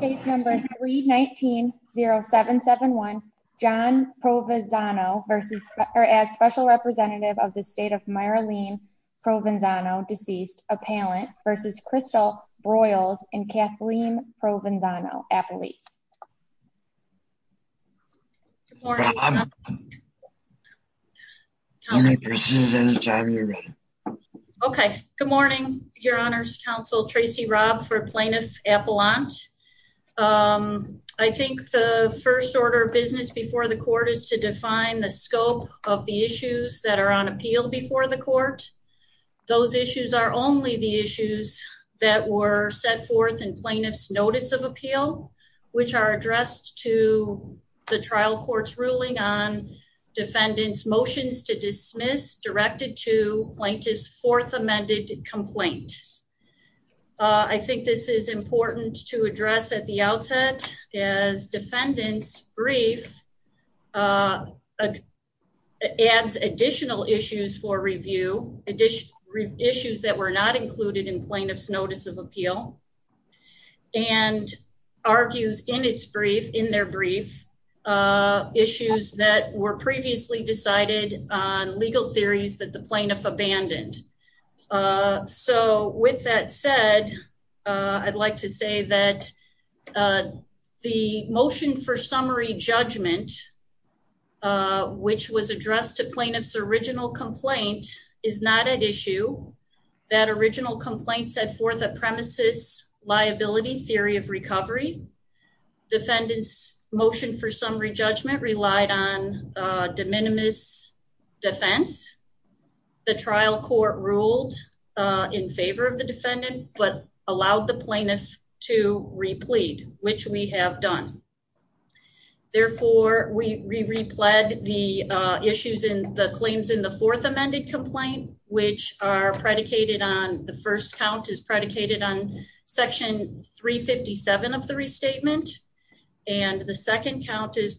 Case number 319-0771 John Provenzano as special representative of the state of Myralene Provenzano deceased appellant versus Crystal Broyles and Kathleen Provenzano at police. Good morning your honors counsel Tracy Robb for plaintiff appellant. I think the first order of business before the court is to define the scope of the issues that are on appeal before the court. Those issues are only the issues that were set forth in plaintiff's notice of appeal, which are addressed to the trial court's ruling on defendant's motions to dismiss directed to plaintiff's fourth amended complaint. I think this is important to address at the outset as defendant's brief adds additional issues for review issues that were not included in plaintiff's notice of appeal and argues in its brief in their brief issues that were previously decided on legal theories that the plaintiff abandoned. So with that said I'd like to say that the motion for summary judgment which was addressed to plaintiff's original complaint is not at issue. That original complaint set forth a premises liability theory of recovery. Defendant's motion for summary judgment relied on de minimis defense. The trial court ruled in favor of the defendant, but allowed the plaintiff to replete, which we have done. Therefore, we repled the issues in the claims in the fourth amended complaint, which are predicated on the first count is predicated on section three 57 of the restatement. And the second count is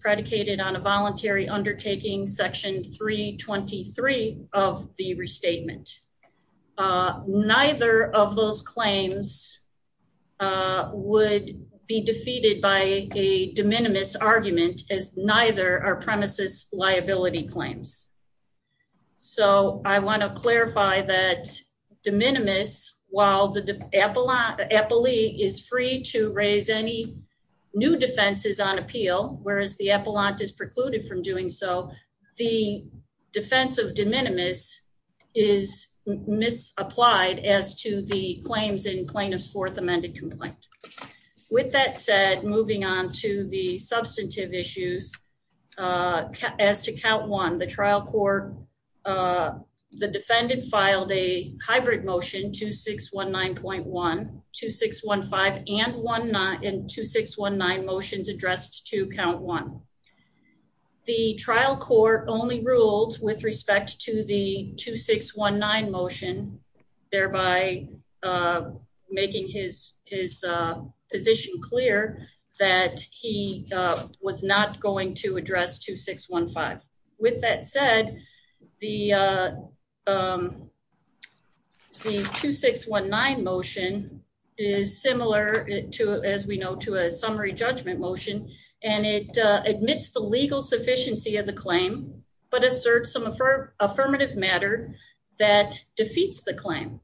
voluntary undertaking section three 23 of the restatement. Neither of those claims would be defeated by a de minimis argument as neither are premises liability claims. So I want to clarify that de minimis, while the appellee is free to excluded from doing so, the defense of de minimis is misapplied as to the claims in plaintiff's fourth amended complaint. With that said, moving on to the substantive issues, uh, as to count one, the trial court, uh, the defendant filed a hybrid motion 2619.1, 2615 and 2619 motions addressed to count one. The trial court only ruled with respect to the 2619 motion thereby, uh, making his, his, uh, position clear that he, uh, was not going to address 2615 with that said the, uh, um, the 2619 motion is similar to, as we know, to a summary judgment motion and it, uh, admits the legal sufficiency of the claim, but asserts some affirmative matter that defeats the claim,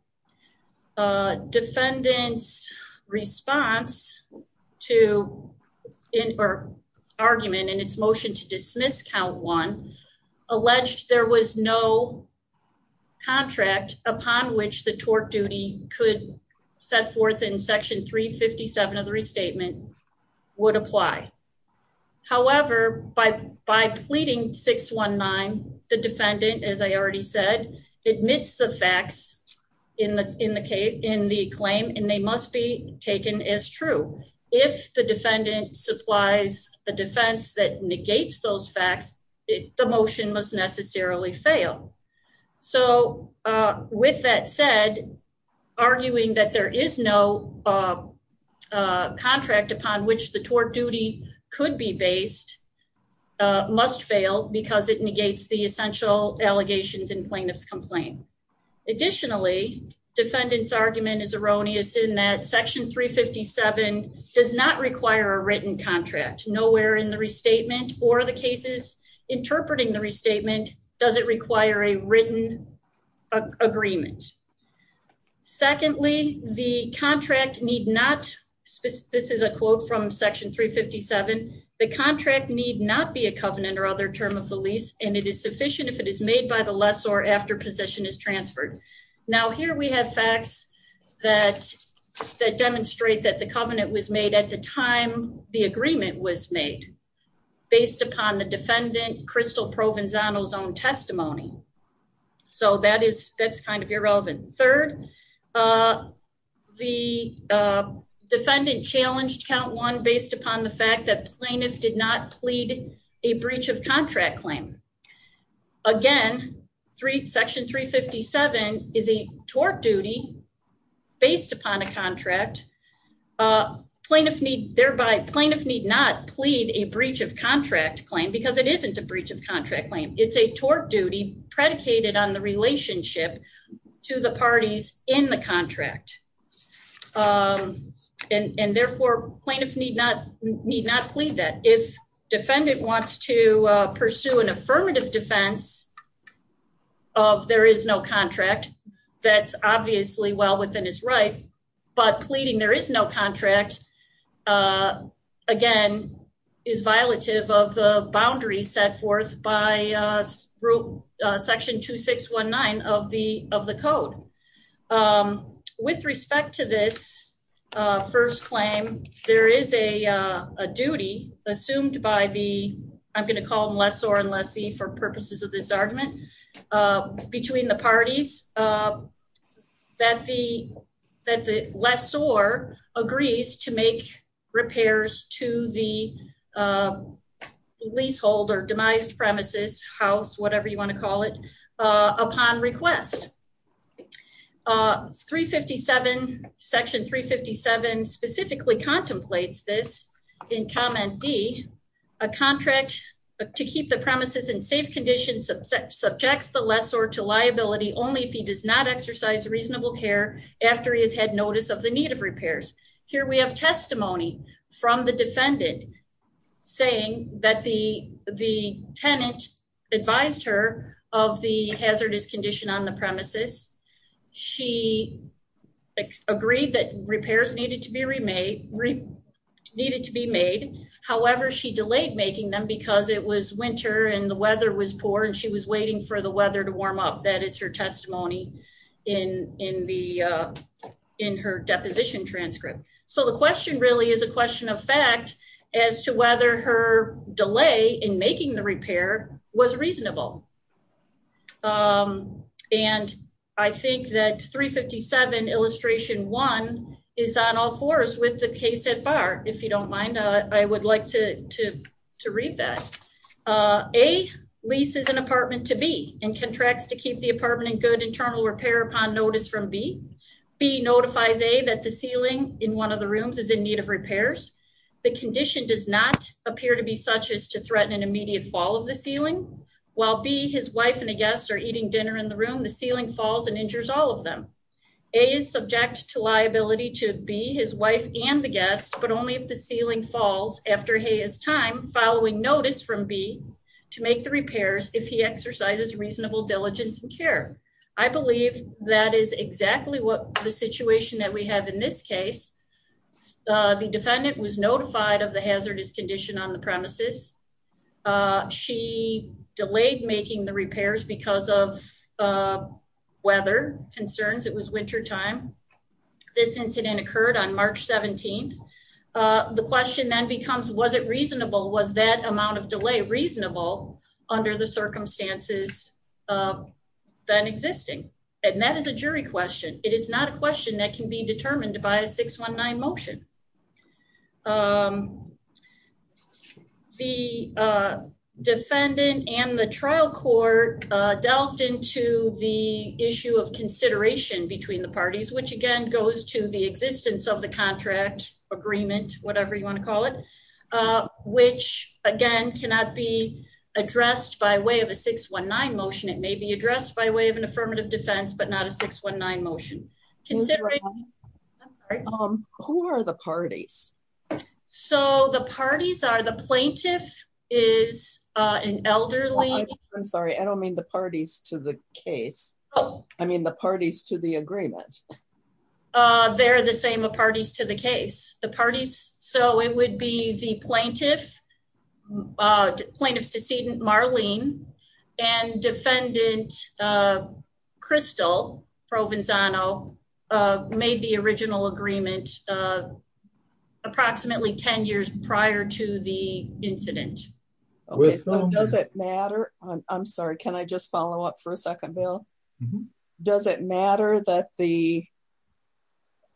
uh, defendants response to in or argument and its motion to dismiss count one alleged. There was no contract upon which the tort duty could set forth in section three 57 of the restatement would apply. However, by, by pleading six one nine, the defendant, as I already said, admits the facts in the, in the case in the claim, and they must be taken as true. If the defendant supplies a defense that negates those facts, the motion must necessarily fail. So, uh, with that said, arguing that there is no, uh, uh, contract upon which the tort duty could be based, uh, must fail because it negates the essential allegations in plaintiff's complaint, additionally, defendants argument is erroneous in that section three 57 does not require a written contract nowhere in the restatement or the cases interpreting the restatement. Does it require a written agreement? Secondly, the contract need not, this is a quote from section three 57. The contract need not be a covenant or other term of the lease. And it is sufficient if it is made by the lessor after possession is transferred. Now, here we have facts that demonstrate that the covenant was made at the time the agreement was made based upon the defendant Crystal Provenzano's own testimony. So that is, that's kind of irrelevant. Third, uh, the, uh, defendant challenged count one based upon the fact that plaintiff did not plead a breach of contract claim again, three section three 57 is a tort duty based upon a contract. A plaintiff need thereby plaintiff need not plead a breach of contract claim because it isn't a breach of contract claim. It's a tort duty predicated on the relationship to the parties in the contract, um, and, and therefore plaintiff need not need not plead that if defendant wants to pursue an affirmative defense of there is no contract, uh, again, is violative of the boundaries set forth by, uh, group, uh, section two, six, one nine of the, of the code, um, with respect to this, uh, first claim, there is a, uh, a duty assumed by the, I'm going to call them lessor and lessee for purposes of this argument, uh, between the parties, uh, that the, that the lessor agrees to make repairs to the, uh, leasehold or demised premises house, whatever you want to call it, uh, upon request, uh, three 57 section three 57 specifically contemplates this in comment D a contract to keep the premises in safe conditions of subjects, the lessor to liability only if he does not exercise reasonable care after he has had notice of the need of repairs. Here we have testimony from the defendant saying that the, the tenant advised her of the hazardous condition on the premises, she agreed that repairs needed to be remade, needed to be made, however, she delayed making them because it was winter and the weather was poor and she was waiting for the weather to warm up. That is her testimony in, in the, uh, in her deposition transcript. So the question really is a question of fact as to whether her delay in making the repair was reasonable. Um, and I think that three 57 illustration one is on all fours with the case at bar, if you don't mind, uh, I would like to, to, to read that, uh, a lease is an apartment to be in contracts to keep the apartment in good internal repair upon notice from B B notifies a, that the ceiling in one of the rooms is in need of repairs. The condition does not appear to be such as to threaten an immediate fall of the ceiling. While B his wife and a guest are eating dinner in the room, the ceiling falls and injures all of them. A is subject to liability to be his wife and the guest, but only if the ceiling falls after his time following notice from B to make the repairs, if he exercises reasonable diligence and care. I believe that is exactly what the situation that we have in this case. Uh, the defendant was notified of the hazardous condition on the premises. Uh, she delayed making the repairs because of, uh, weather concerns it was winter time. This incident occurred on March 17th. Uh, the question then becomes, was it reasonable? Was that amount of delay reasonable under the circumstances, uh, that existing, and that is a jury question. It is not a question that can be determined by a six one nine motion. Um, the, uh, defendant and the trial court, uh, delved into the issue of consideration between the parties, which again goes to the existence of the agreement, whatever you want to call it. Uh, which again, cannot be addressed by way of a six one nine motion. It may be addressed by way of an affirmative defense, but not a six one nine motion. Who are the parties? So the parties are the plaintiff is, uh, an elderly. I'm sorry. I don't mean the parties to the case. Oh, I mean the parties to the agreement. Uh, they're the same parties to the case, the parties. So it would be the plaintiff, uh, plaintiff's decedent Marlene and defendant, uh, Crystal Provenzano, uh, made the original agreement, uh, approximately 10 years prior to the incident. Okay. Does it matter? I'm sorry. Can I just follow up for a second bill? Does it matter that the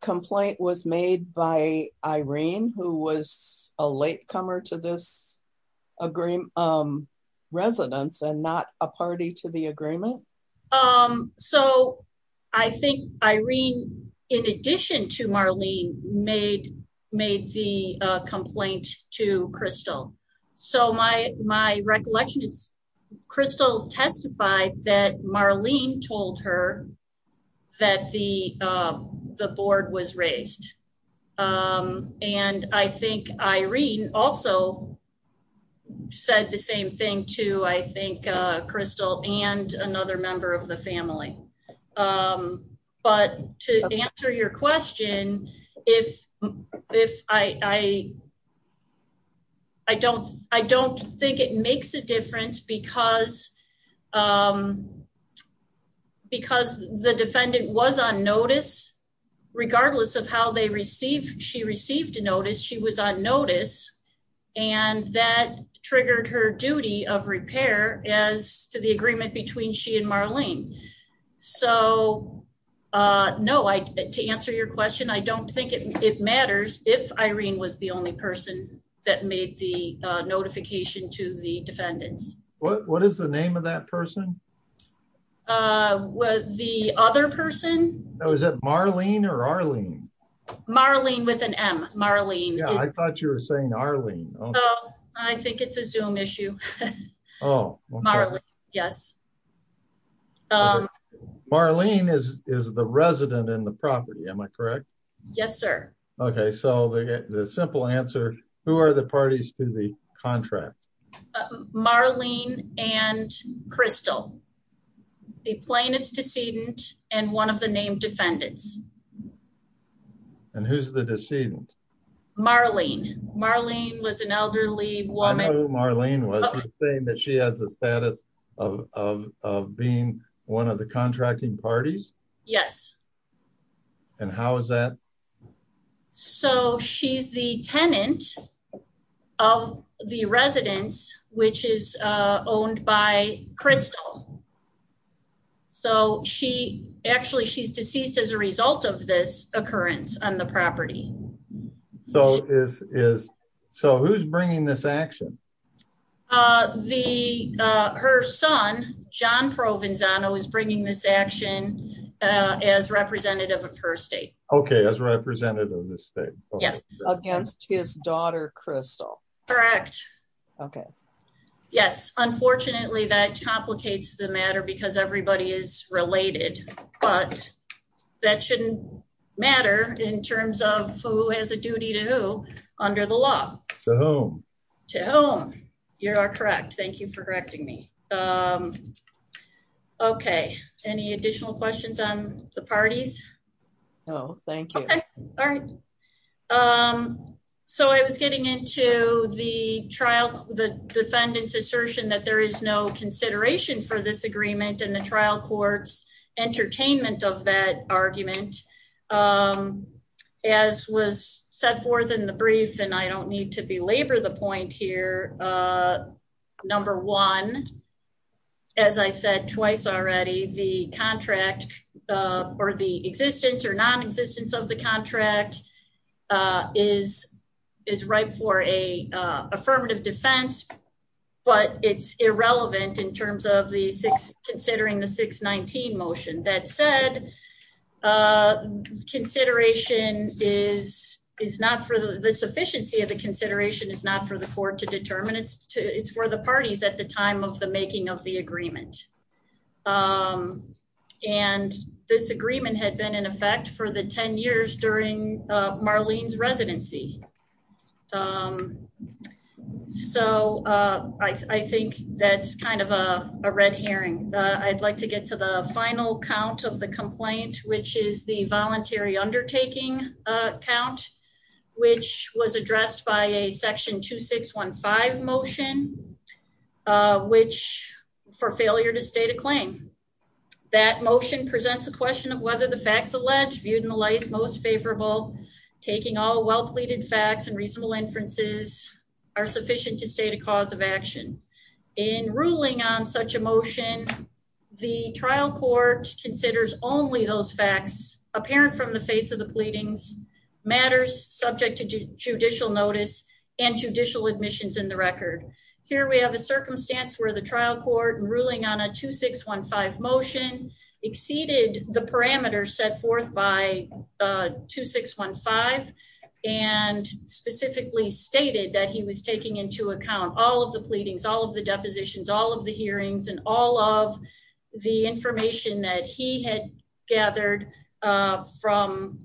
complaint was made by Irene, who was a late comer to this agreement, um, residents and not a party to the agreement? Um, so I think Irene, in addition to Marlene made, made the complaint to Crystal. So my, my recollection is Crystal testified that Marlene told her that the, uh, the board was raised. Um, and I think Irene also said the same thing to, I think, uh, Crystal and another member of the family. Um, but to answer your question, if, if I, I, I don't, I don't think it makes a difference because, um, because the defendant was on notice, regardless of how they receive, she received a notice. She was on notice and that triggered her duty of repair as to the agreement between she and Marlene. So, uh, no, I, to answer your question, I don't think it matters. If Irene was the only person that made the notification to the defendants. What, what is the name of that person? Uh, the other person. Oh, is that Marlene or Arlene? Marlene with an M Marlene. Yeah. I thought you were saying Arlene. I think it's a zoom issue. Oh, yes. Um, Marlene is, is the resident in the property. Am I correct? Yes, sir. Okay. So the simple answer, who are the parties to the contract? Marlene and Crystal, the plaintiff's decedent and one of the name defendants. And who's the decedent? Marlene. Marlene was an elderly woman. Marlene was saying that she has a status of, of, of, uh, of being one of the contracting parties. Yes. And how is that? So she's the tenant of the residence, which is, uh, owned by Crystal. So she actually, she's deceased as a result of this occurrence on the property. So is, is, so who's bringing this action? Uh, the, uh, her son, John Provenzano is bringing this action, uh, as representative of her state. Okay. As representative of the state against his daughter, Crystal. Correct. Okay. Yes. Unfortunately that complicates the matter because everybody is related, but that shouldn't matter in terms of who has a duty to who under the law to whom, to whom you're correct. Thank you for correcting me. Um, okay. Any additional questions on the parties? No, thank you. All right. Um, so I was getting into the trial, the defendant's assertion that there is no consideration for this agreement and the trial court's entertainment of that argument, um, as was set forth in the brief, and I don't need to belabor the point here, uh, number one, as I said twice already, the contract, uh, or the existence or non-existence of the contract, uh, is, is right for a, uh, affirmative defense, but it's irrelevant in terms of the six considering the six 19 motion that said, uh, consideration is, is not for the sufficiency of the consideration is not for the court to determine it's to, it's for the parties at the time of the making of the agreement, um, and this agreement had been in effect for the 10 years during, uh, Marlene's residency. Um, so, uh, I, I think that's kind of a red herring. Uh, I'd like to get to the final count of the complaint, which is the voluntary undertaking, uh, count, which was addressed by a section two six one five motion, uh, which for failure to state a claim that motion presents a question of whether the facts alleged viewed in the light, most favorable taking all well pleaded facts and reasonable inferences are sufficient to state a cause of action in ruling on such emotion, the trial court considers only those facts apparent from the face of the pleadings matters subject to judicial notice and judicial admissions in the record here, we have a circumstance where the trial court and ruling on a two six one five motion exceeded the parameters set forth by a two six one five and specifically stated that he was taking into account all of the pleadings, all of the depositions, all of the hearings and all of the information that he had gathered, uh, from,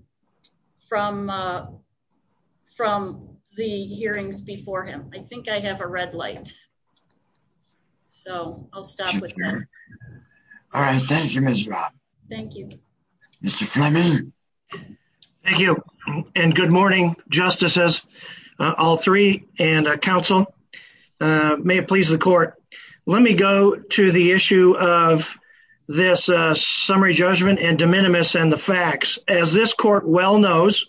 from, uh, from the hearings before him, I think I have a red light, so I'll stop with that. All right. Thank you. Ms. Rob. Thank you, Mr. Fleming. Thank you. And good morning, justices, uh, all three and a council, uh, may it please the of this, uh, summary judgment and de minimis and the facts as this court well knows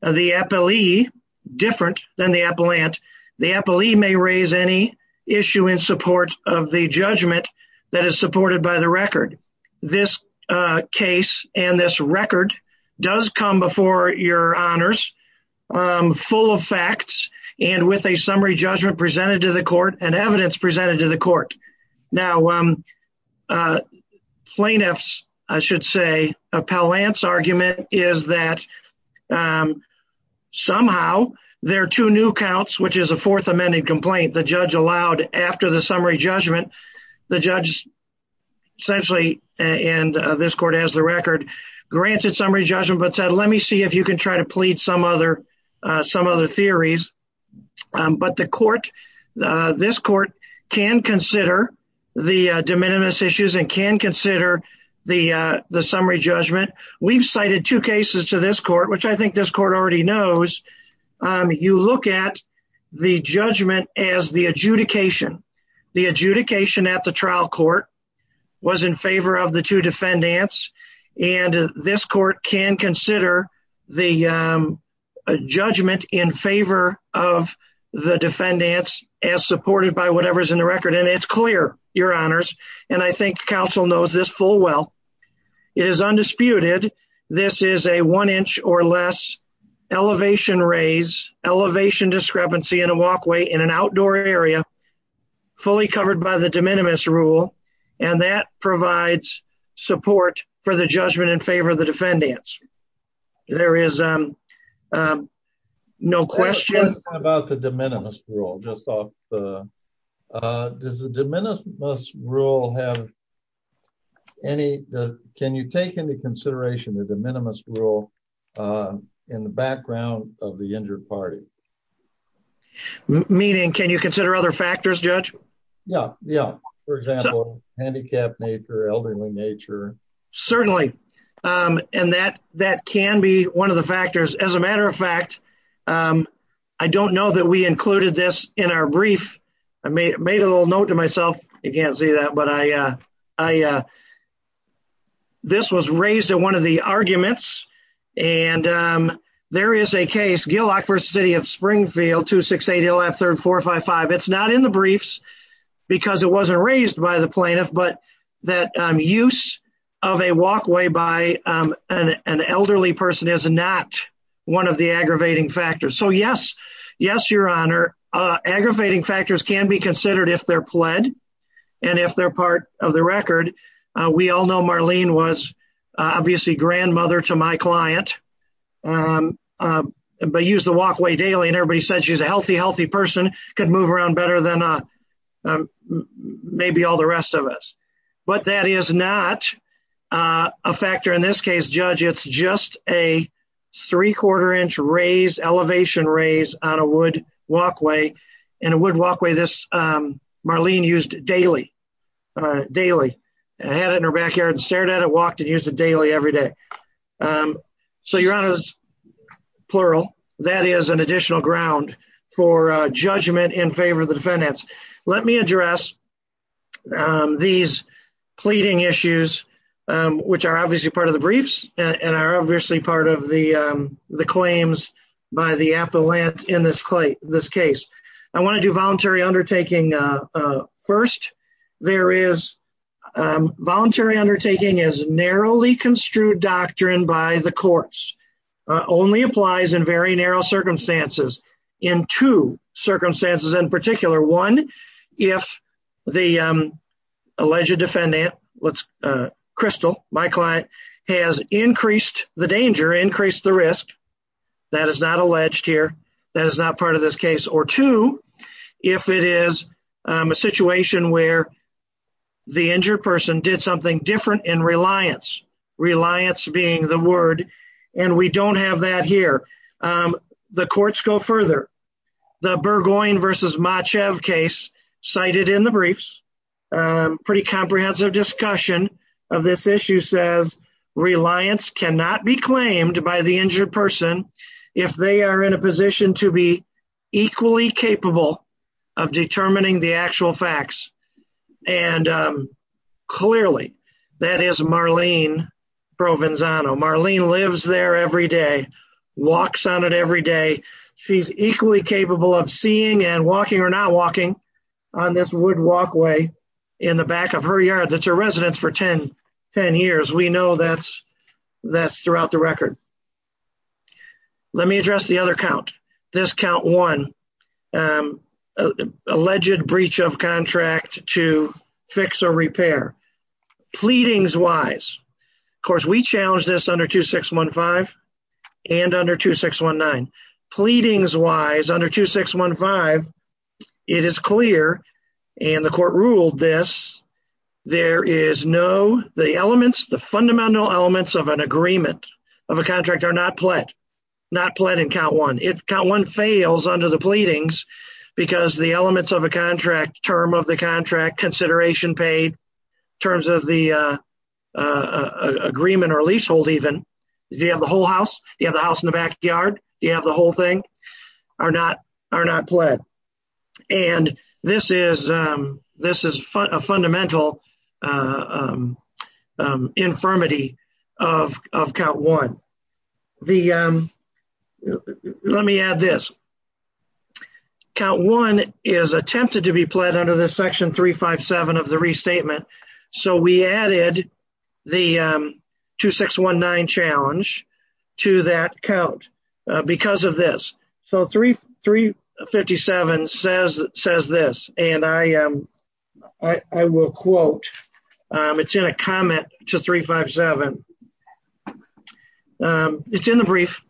the Eppley different than the appellant, the Eppley may raise any issue in support of the judgment that is supported by the record. This, uh, case and this record does come before your honors, um, full of facts and with a summary judgment presented to the court and evidence presented to the court. Now, um, uh, plaintiffs, I should say a pal Lance argument is that, um, somehow there are two new counts, which is a fourth amended complaint. The judge allowed after the summary judgment, the judge essentially, and this court has the record granted summary judgment, but said, let me see if you can try to plead some other, uh, some other theories. Um, but the court, uh, this court can consider the de minimis issues and can consider the, uh, the summary judgment. We've cited two cases to this court, which I think this court already knows. Um, you look at the judgment as the adjudication, the adjudication at the trial court was in favor of the two defendants and this court can consider the, um, uh, judgment in favor of the defendants as supported by whatever's in the record. And it's clear your honors. And I think council knows this full well, it is undisputed. This is a one inch or less elevation, raise elevation, discrepancy in a walkway in an outdoor area, fully covered by the de minimis rule. And that provides support for the judgment in favor of the defendants. There is, um, um, no questions about the de minimis rule just off the, uh, does the de minimis rule have any, can you take into consideration that the de minimis rule, uh, in the background of the injured party, meaning, can you consider other factors judge? Yeah. Yeah. For example, handicapped nature, elderly nature. Certainly. Um, and that, that can be one of the factors as a matter of fact, um, I don't know that we included this in our brief. I made, I made a little note to myself. I can't see that, but I, uh, I, uh, this was raised at one of the arguments. And, um, there is a case Gillock versus city of Springfield, two, six, eight, he'll have third, four or five, five. It's not in the briefs because it wasn't raised by the plaintiff, but that, um, of a walkway by, um, an, an elderly person is not one of the aggravating factors. So yes, yes, your honor, uh, aggravating factors can be considered if they're pled and if they're part of the record. Uh, we all know Marlene was obviously grandmother to my client. Um, um, but use the walkway daily. And everybody said she was a healthy, healthy person could move around better than, uh, um, maybe all the rest of us, but that is not, uh, a factor in this case, judge. It's just a three quarter inch raise elevation, raise on a wood walkway and a wood walkway. This, um, Marlene used daily. Uh, daily, I had it in her backyard and stared at it, walked and used it daily every day. Um, so your honor is plural. That is an additional ground for a judgment in favor of the defendants. Let me address, um, these pleading issues, um, which are obviously part of the briefs and are obviously part of the, um, the claims by the appellate in this clay, this case. I want to do voluntary undertaking. Uh, uh, first there is, um, voluntary undertaking is narrowly construed doctrine by the courts. Uh, only applies in very narrow circumstances in two circumstances. In particular one, if the, um, alleged defendant let's, uh, crystal, my client has increased the danger, increased the risk that is not alleged here, that is not part of this case. Or two, if it is a situation where. The injured person did something different in reliance, reliance being the word, and we don't have that here. Um, the courts go further. The Burgoyne versus match of case cited in the briefs, um, pretty comprehensive discussion of this issue says reliance cannot be claimed by the injured person if they are in a position to be equally capable. Of determining the actual facts. And, um, clearly that is Marlene provenzano Marlene lives there every day, walks on it every day. She's equally capable of seeing and walking or not walking on this wood walkway in the back of her yard. That's her residence for 10, 10 years. We know that's, that's throughout the record. Let me address the other count. This count one, um, alleged breach of contract to fix or repair. Pleadings wise, of course we challenged this under two, six, one, five. And under two, six, one, nine pleadings wise under two, six, one, five. It is clear. And the court ruled this, there is no, the elements, the fundamental elements of an agreement of a contract are not pled, not pled in count one. If count one fails under the pleadings, because the elements of a contract term of the contract consideration paid terms of the, uh, uh, agreement or leasehold, even if you have the whole house. You have the house in the backyard, you have the whole thing are not, are not pled and this is, um, this is a fundamental, uh, um, um, infirmity of, of count one, the, um, let me add this. Count one is attempted to be pled under the section three, five, seven of the restatement. So we added the, um, two, six, one, nine challenge to that count, uh, because of this, so three, three 57 says, says this, and I, um, I will quote, um, it's in a comment to three, five, seven. Um, it's in the brief,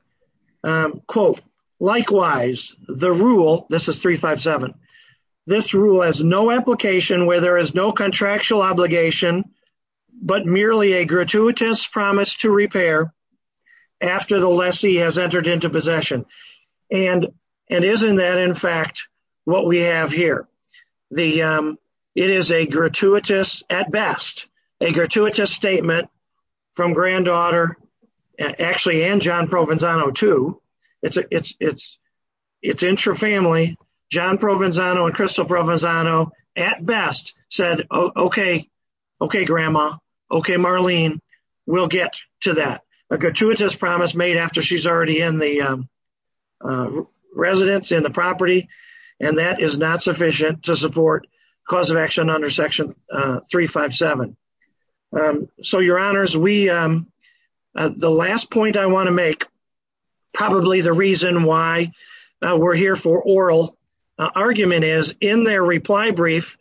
um, quote, likewise, the rule, this is three, five, this rule has no application where there is no contractual obligation, but merely a gratuitous promise to repair after the lessee has entered into possession and, and isn't that in fact, what we have here, the, um, it is a gratuitous at best, a gratuitous statement from granddaughter actually and John Provenzano too. It's it's, it's, it's intra family, John Provenzano and crystal Provenzano at best said, okay. Okay. Grandma. Okay. Marlene. We'll get to that. A gratuitous promise made after she's already in the, um, uh, residence in the property. And that is not sufficient to support cause of action under section, uh, three, your honors. We, um, uh, the last point I want to make probably the reason why we're here for oral argument is in their reply brief,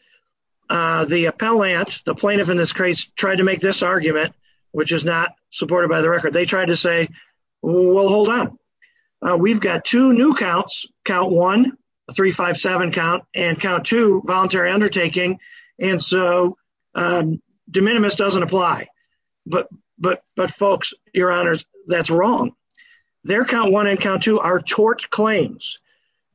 uh, the appellant, the plaintiff in this case tried to make this argument, which is not supported by the record. They tried to say, well, hold on. Uh, we've got two new counts, count one, three, five, seven count and count two voluntary undertaking. And so, um, de minimis doesn't apply. But, but, but folks, your honors, that's wrong. Their count one and count two are tort claims.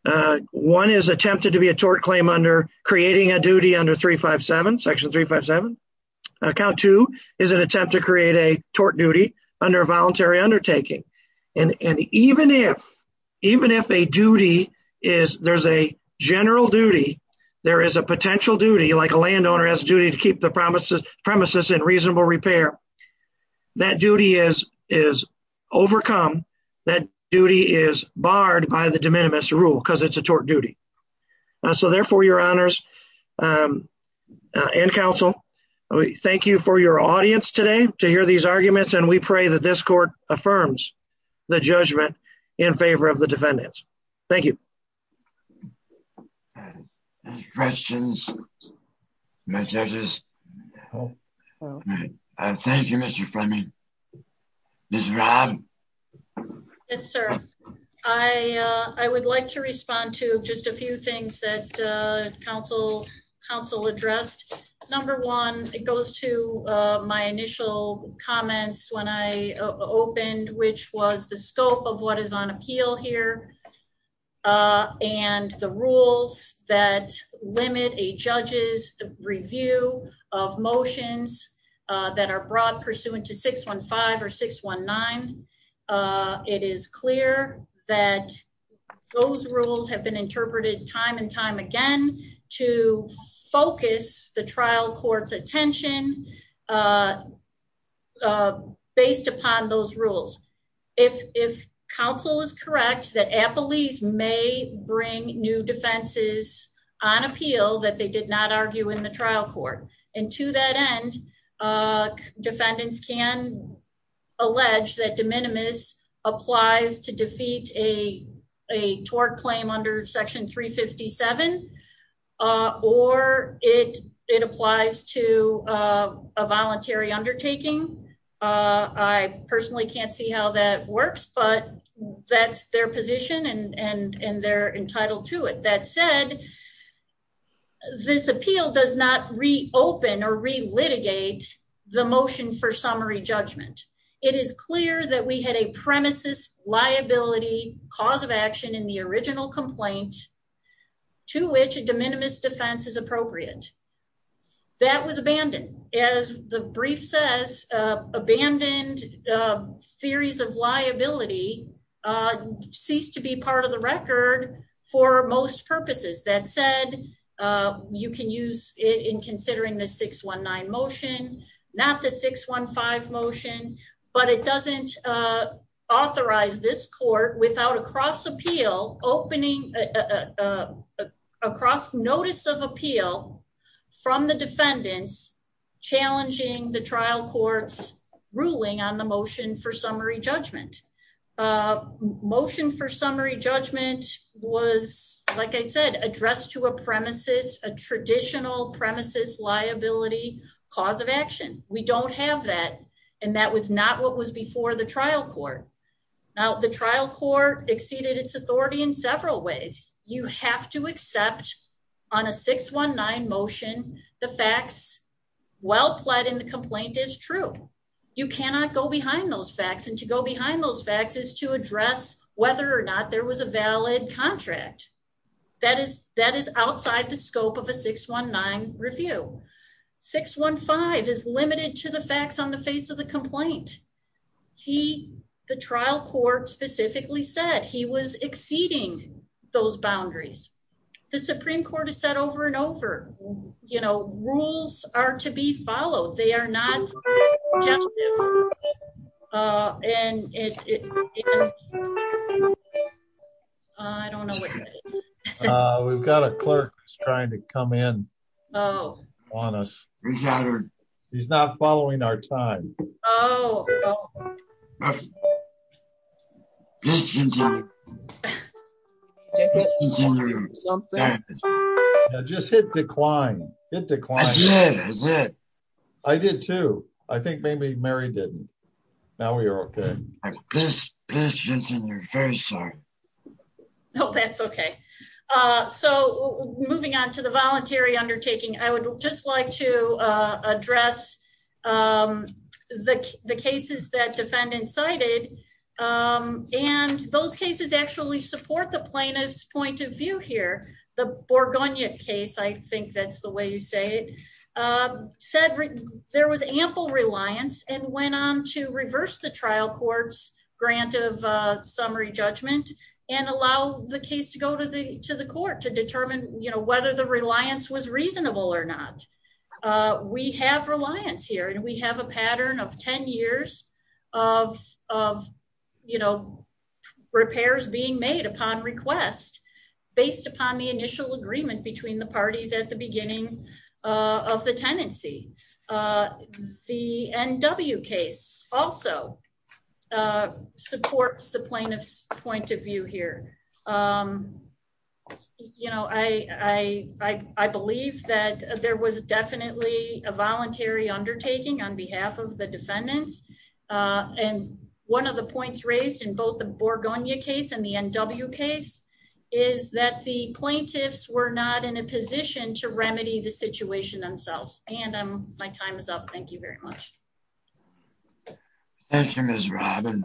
Uh, one is attempted to be a tort claim under creating a duty under three, five, seven section three, five, seven account. Two is an attempt to create a tort duty under voluntary undertaking. And even if, even if a duty is there's a general duty, there is a potential duty, like a landowner has a duty to keep the promises premises in reasonable repair, that duty is, is overcome. That duty is barred by the de minimis rule because it's a tort duty. Uh, so therefore your honors, um, uh, and counsel, thank you for your audience today to hear these arguments. And we pray that this court affirms the judgment in favor of the defendants. Thank you. Questions. My judges. I thank you, Mr. Fleming. This is Rob. Yes, sir. I, uh, I would like to respond to just a few things that, uh, counsel counsel addressed. Number one, it goes to, uh, my initial comments when I opened, which was the review of motions, uh, that are broad pursuant to 6 1 5 or 6 1 9. Uh, it is clear that those rules have been interpreted time and time again to focus the trial court's attention, uh, uh, based upon those rules. If, if counsel is correct, that appellees may bring new defenses on appeal that they did not argue in the trial court and to that end, uh, defendants can allege that de minimis applies to defeat a, a tort claim under section three 57, uh, or it, it applies to, uh, a voluntary undertaking. Uh, I personally can't see how that works, but that's their position and, and, and they're entitled to it. That said, this appeal does not reopen or relitigate the motion for summary judgment. It is clear that we had a premises liability cause of action in the original complaint to which a de minimis defense is appropriate. That was abandoned. As the brief says, uh, abandoned, uh, theories of liability, uh, ceased to be part of the record for most purposes that said, uh, you can use in considering the six one nine motion, not the six one five motion, but it doesn't, uh, authorize this court without a cross appeal opening, uh, uh, across notice of appeal from the defendants challenging the trial court's ruling on the motion for summary judgment, uh, motion for summary judgment was like I said, addressed to a premises, a traditional premises liability cause of action. We don't have that. And that was not what was before the trial court. Now the trial court exceeded its authority in several ways. You have to accept on a six one nine motion, the facts well pled in the complaint is true. You cannot go behind those facts. And to go behind those facts is to address whether or not there was a valid contract that is, that is outside the scope of a six one nine review. Six one five is limited to the facts on the face of the complaint. He, the trial court specifically said he was exceeding those boundaries. The Supreme court has said over and over, you know, rules are to be followed. They are not, uh, and it, I don't know. We've got a clerk trying to come in on us. He's not following our time. Just hit decline. It declined. I did too. I think maybe Mary didn't. Now we are okay. No, that's okay. Uh, so moving on to the voluntary undertaking, I would just like to, uh, address, um, the, the cases that defendants cited, um, and those cases actually support the plaintiff's point of view here, the Borgonia case. I think that's the way you say it. Um, said there was ample reliance and went on to reverse the trial courts grant of a summary judgment and allow the case to go to the, to the court to determine, you know, whether the reliance was reasonable or not. Uh, we have reliance here and we have a pattern of 10 years of, of. You know, repairs being made upon request based upon the initial agreement between the parties at the beginning, uh, of the tenancy, uh, the NW case also, uh, supports the plaintiff's point of view here. Um, you know, I, I, I, I believe that there was definitely a voluntary undertaking on behalf of the defendants. Uh, and one of the points raised in both the Borgonia case and the NW case is that the plaintiffs were not in a position to remedy the situation themselves. And, um, my time is up. Thank you very much. Thank you, Ms. Robyn.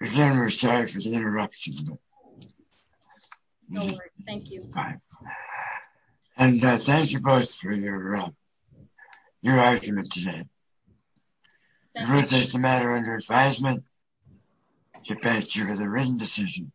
Again, we're sorry for the interruption. No worries. Thank you. And, uh, thank you both for your, uh, your argument today. The ruling is the matter under advisement. The plaintiff has a written decision.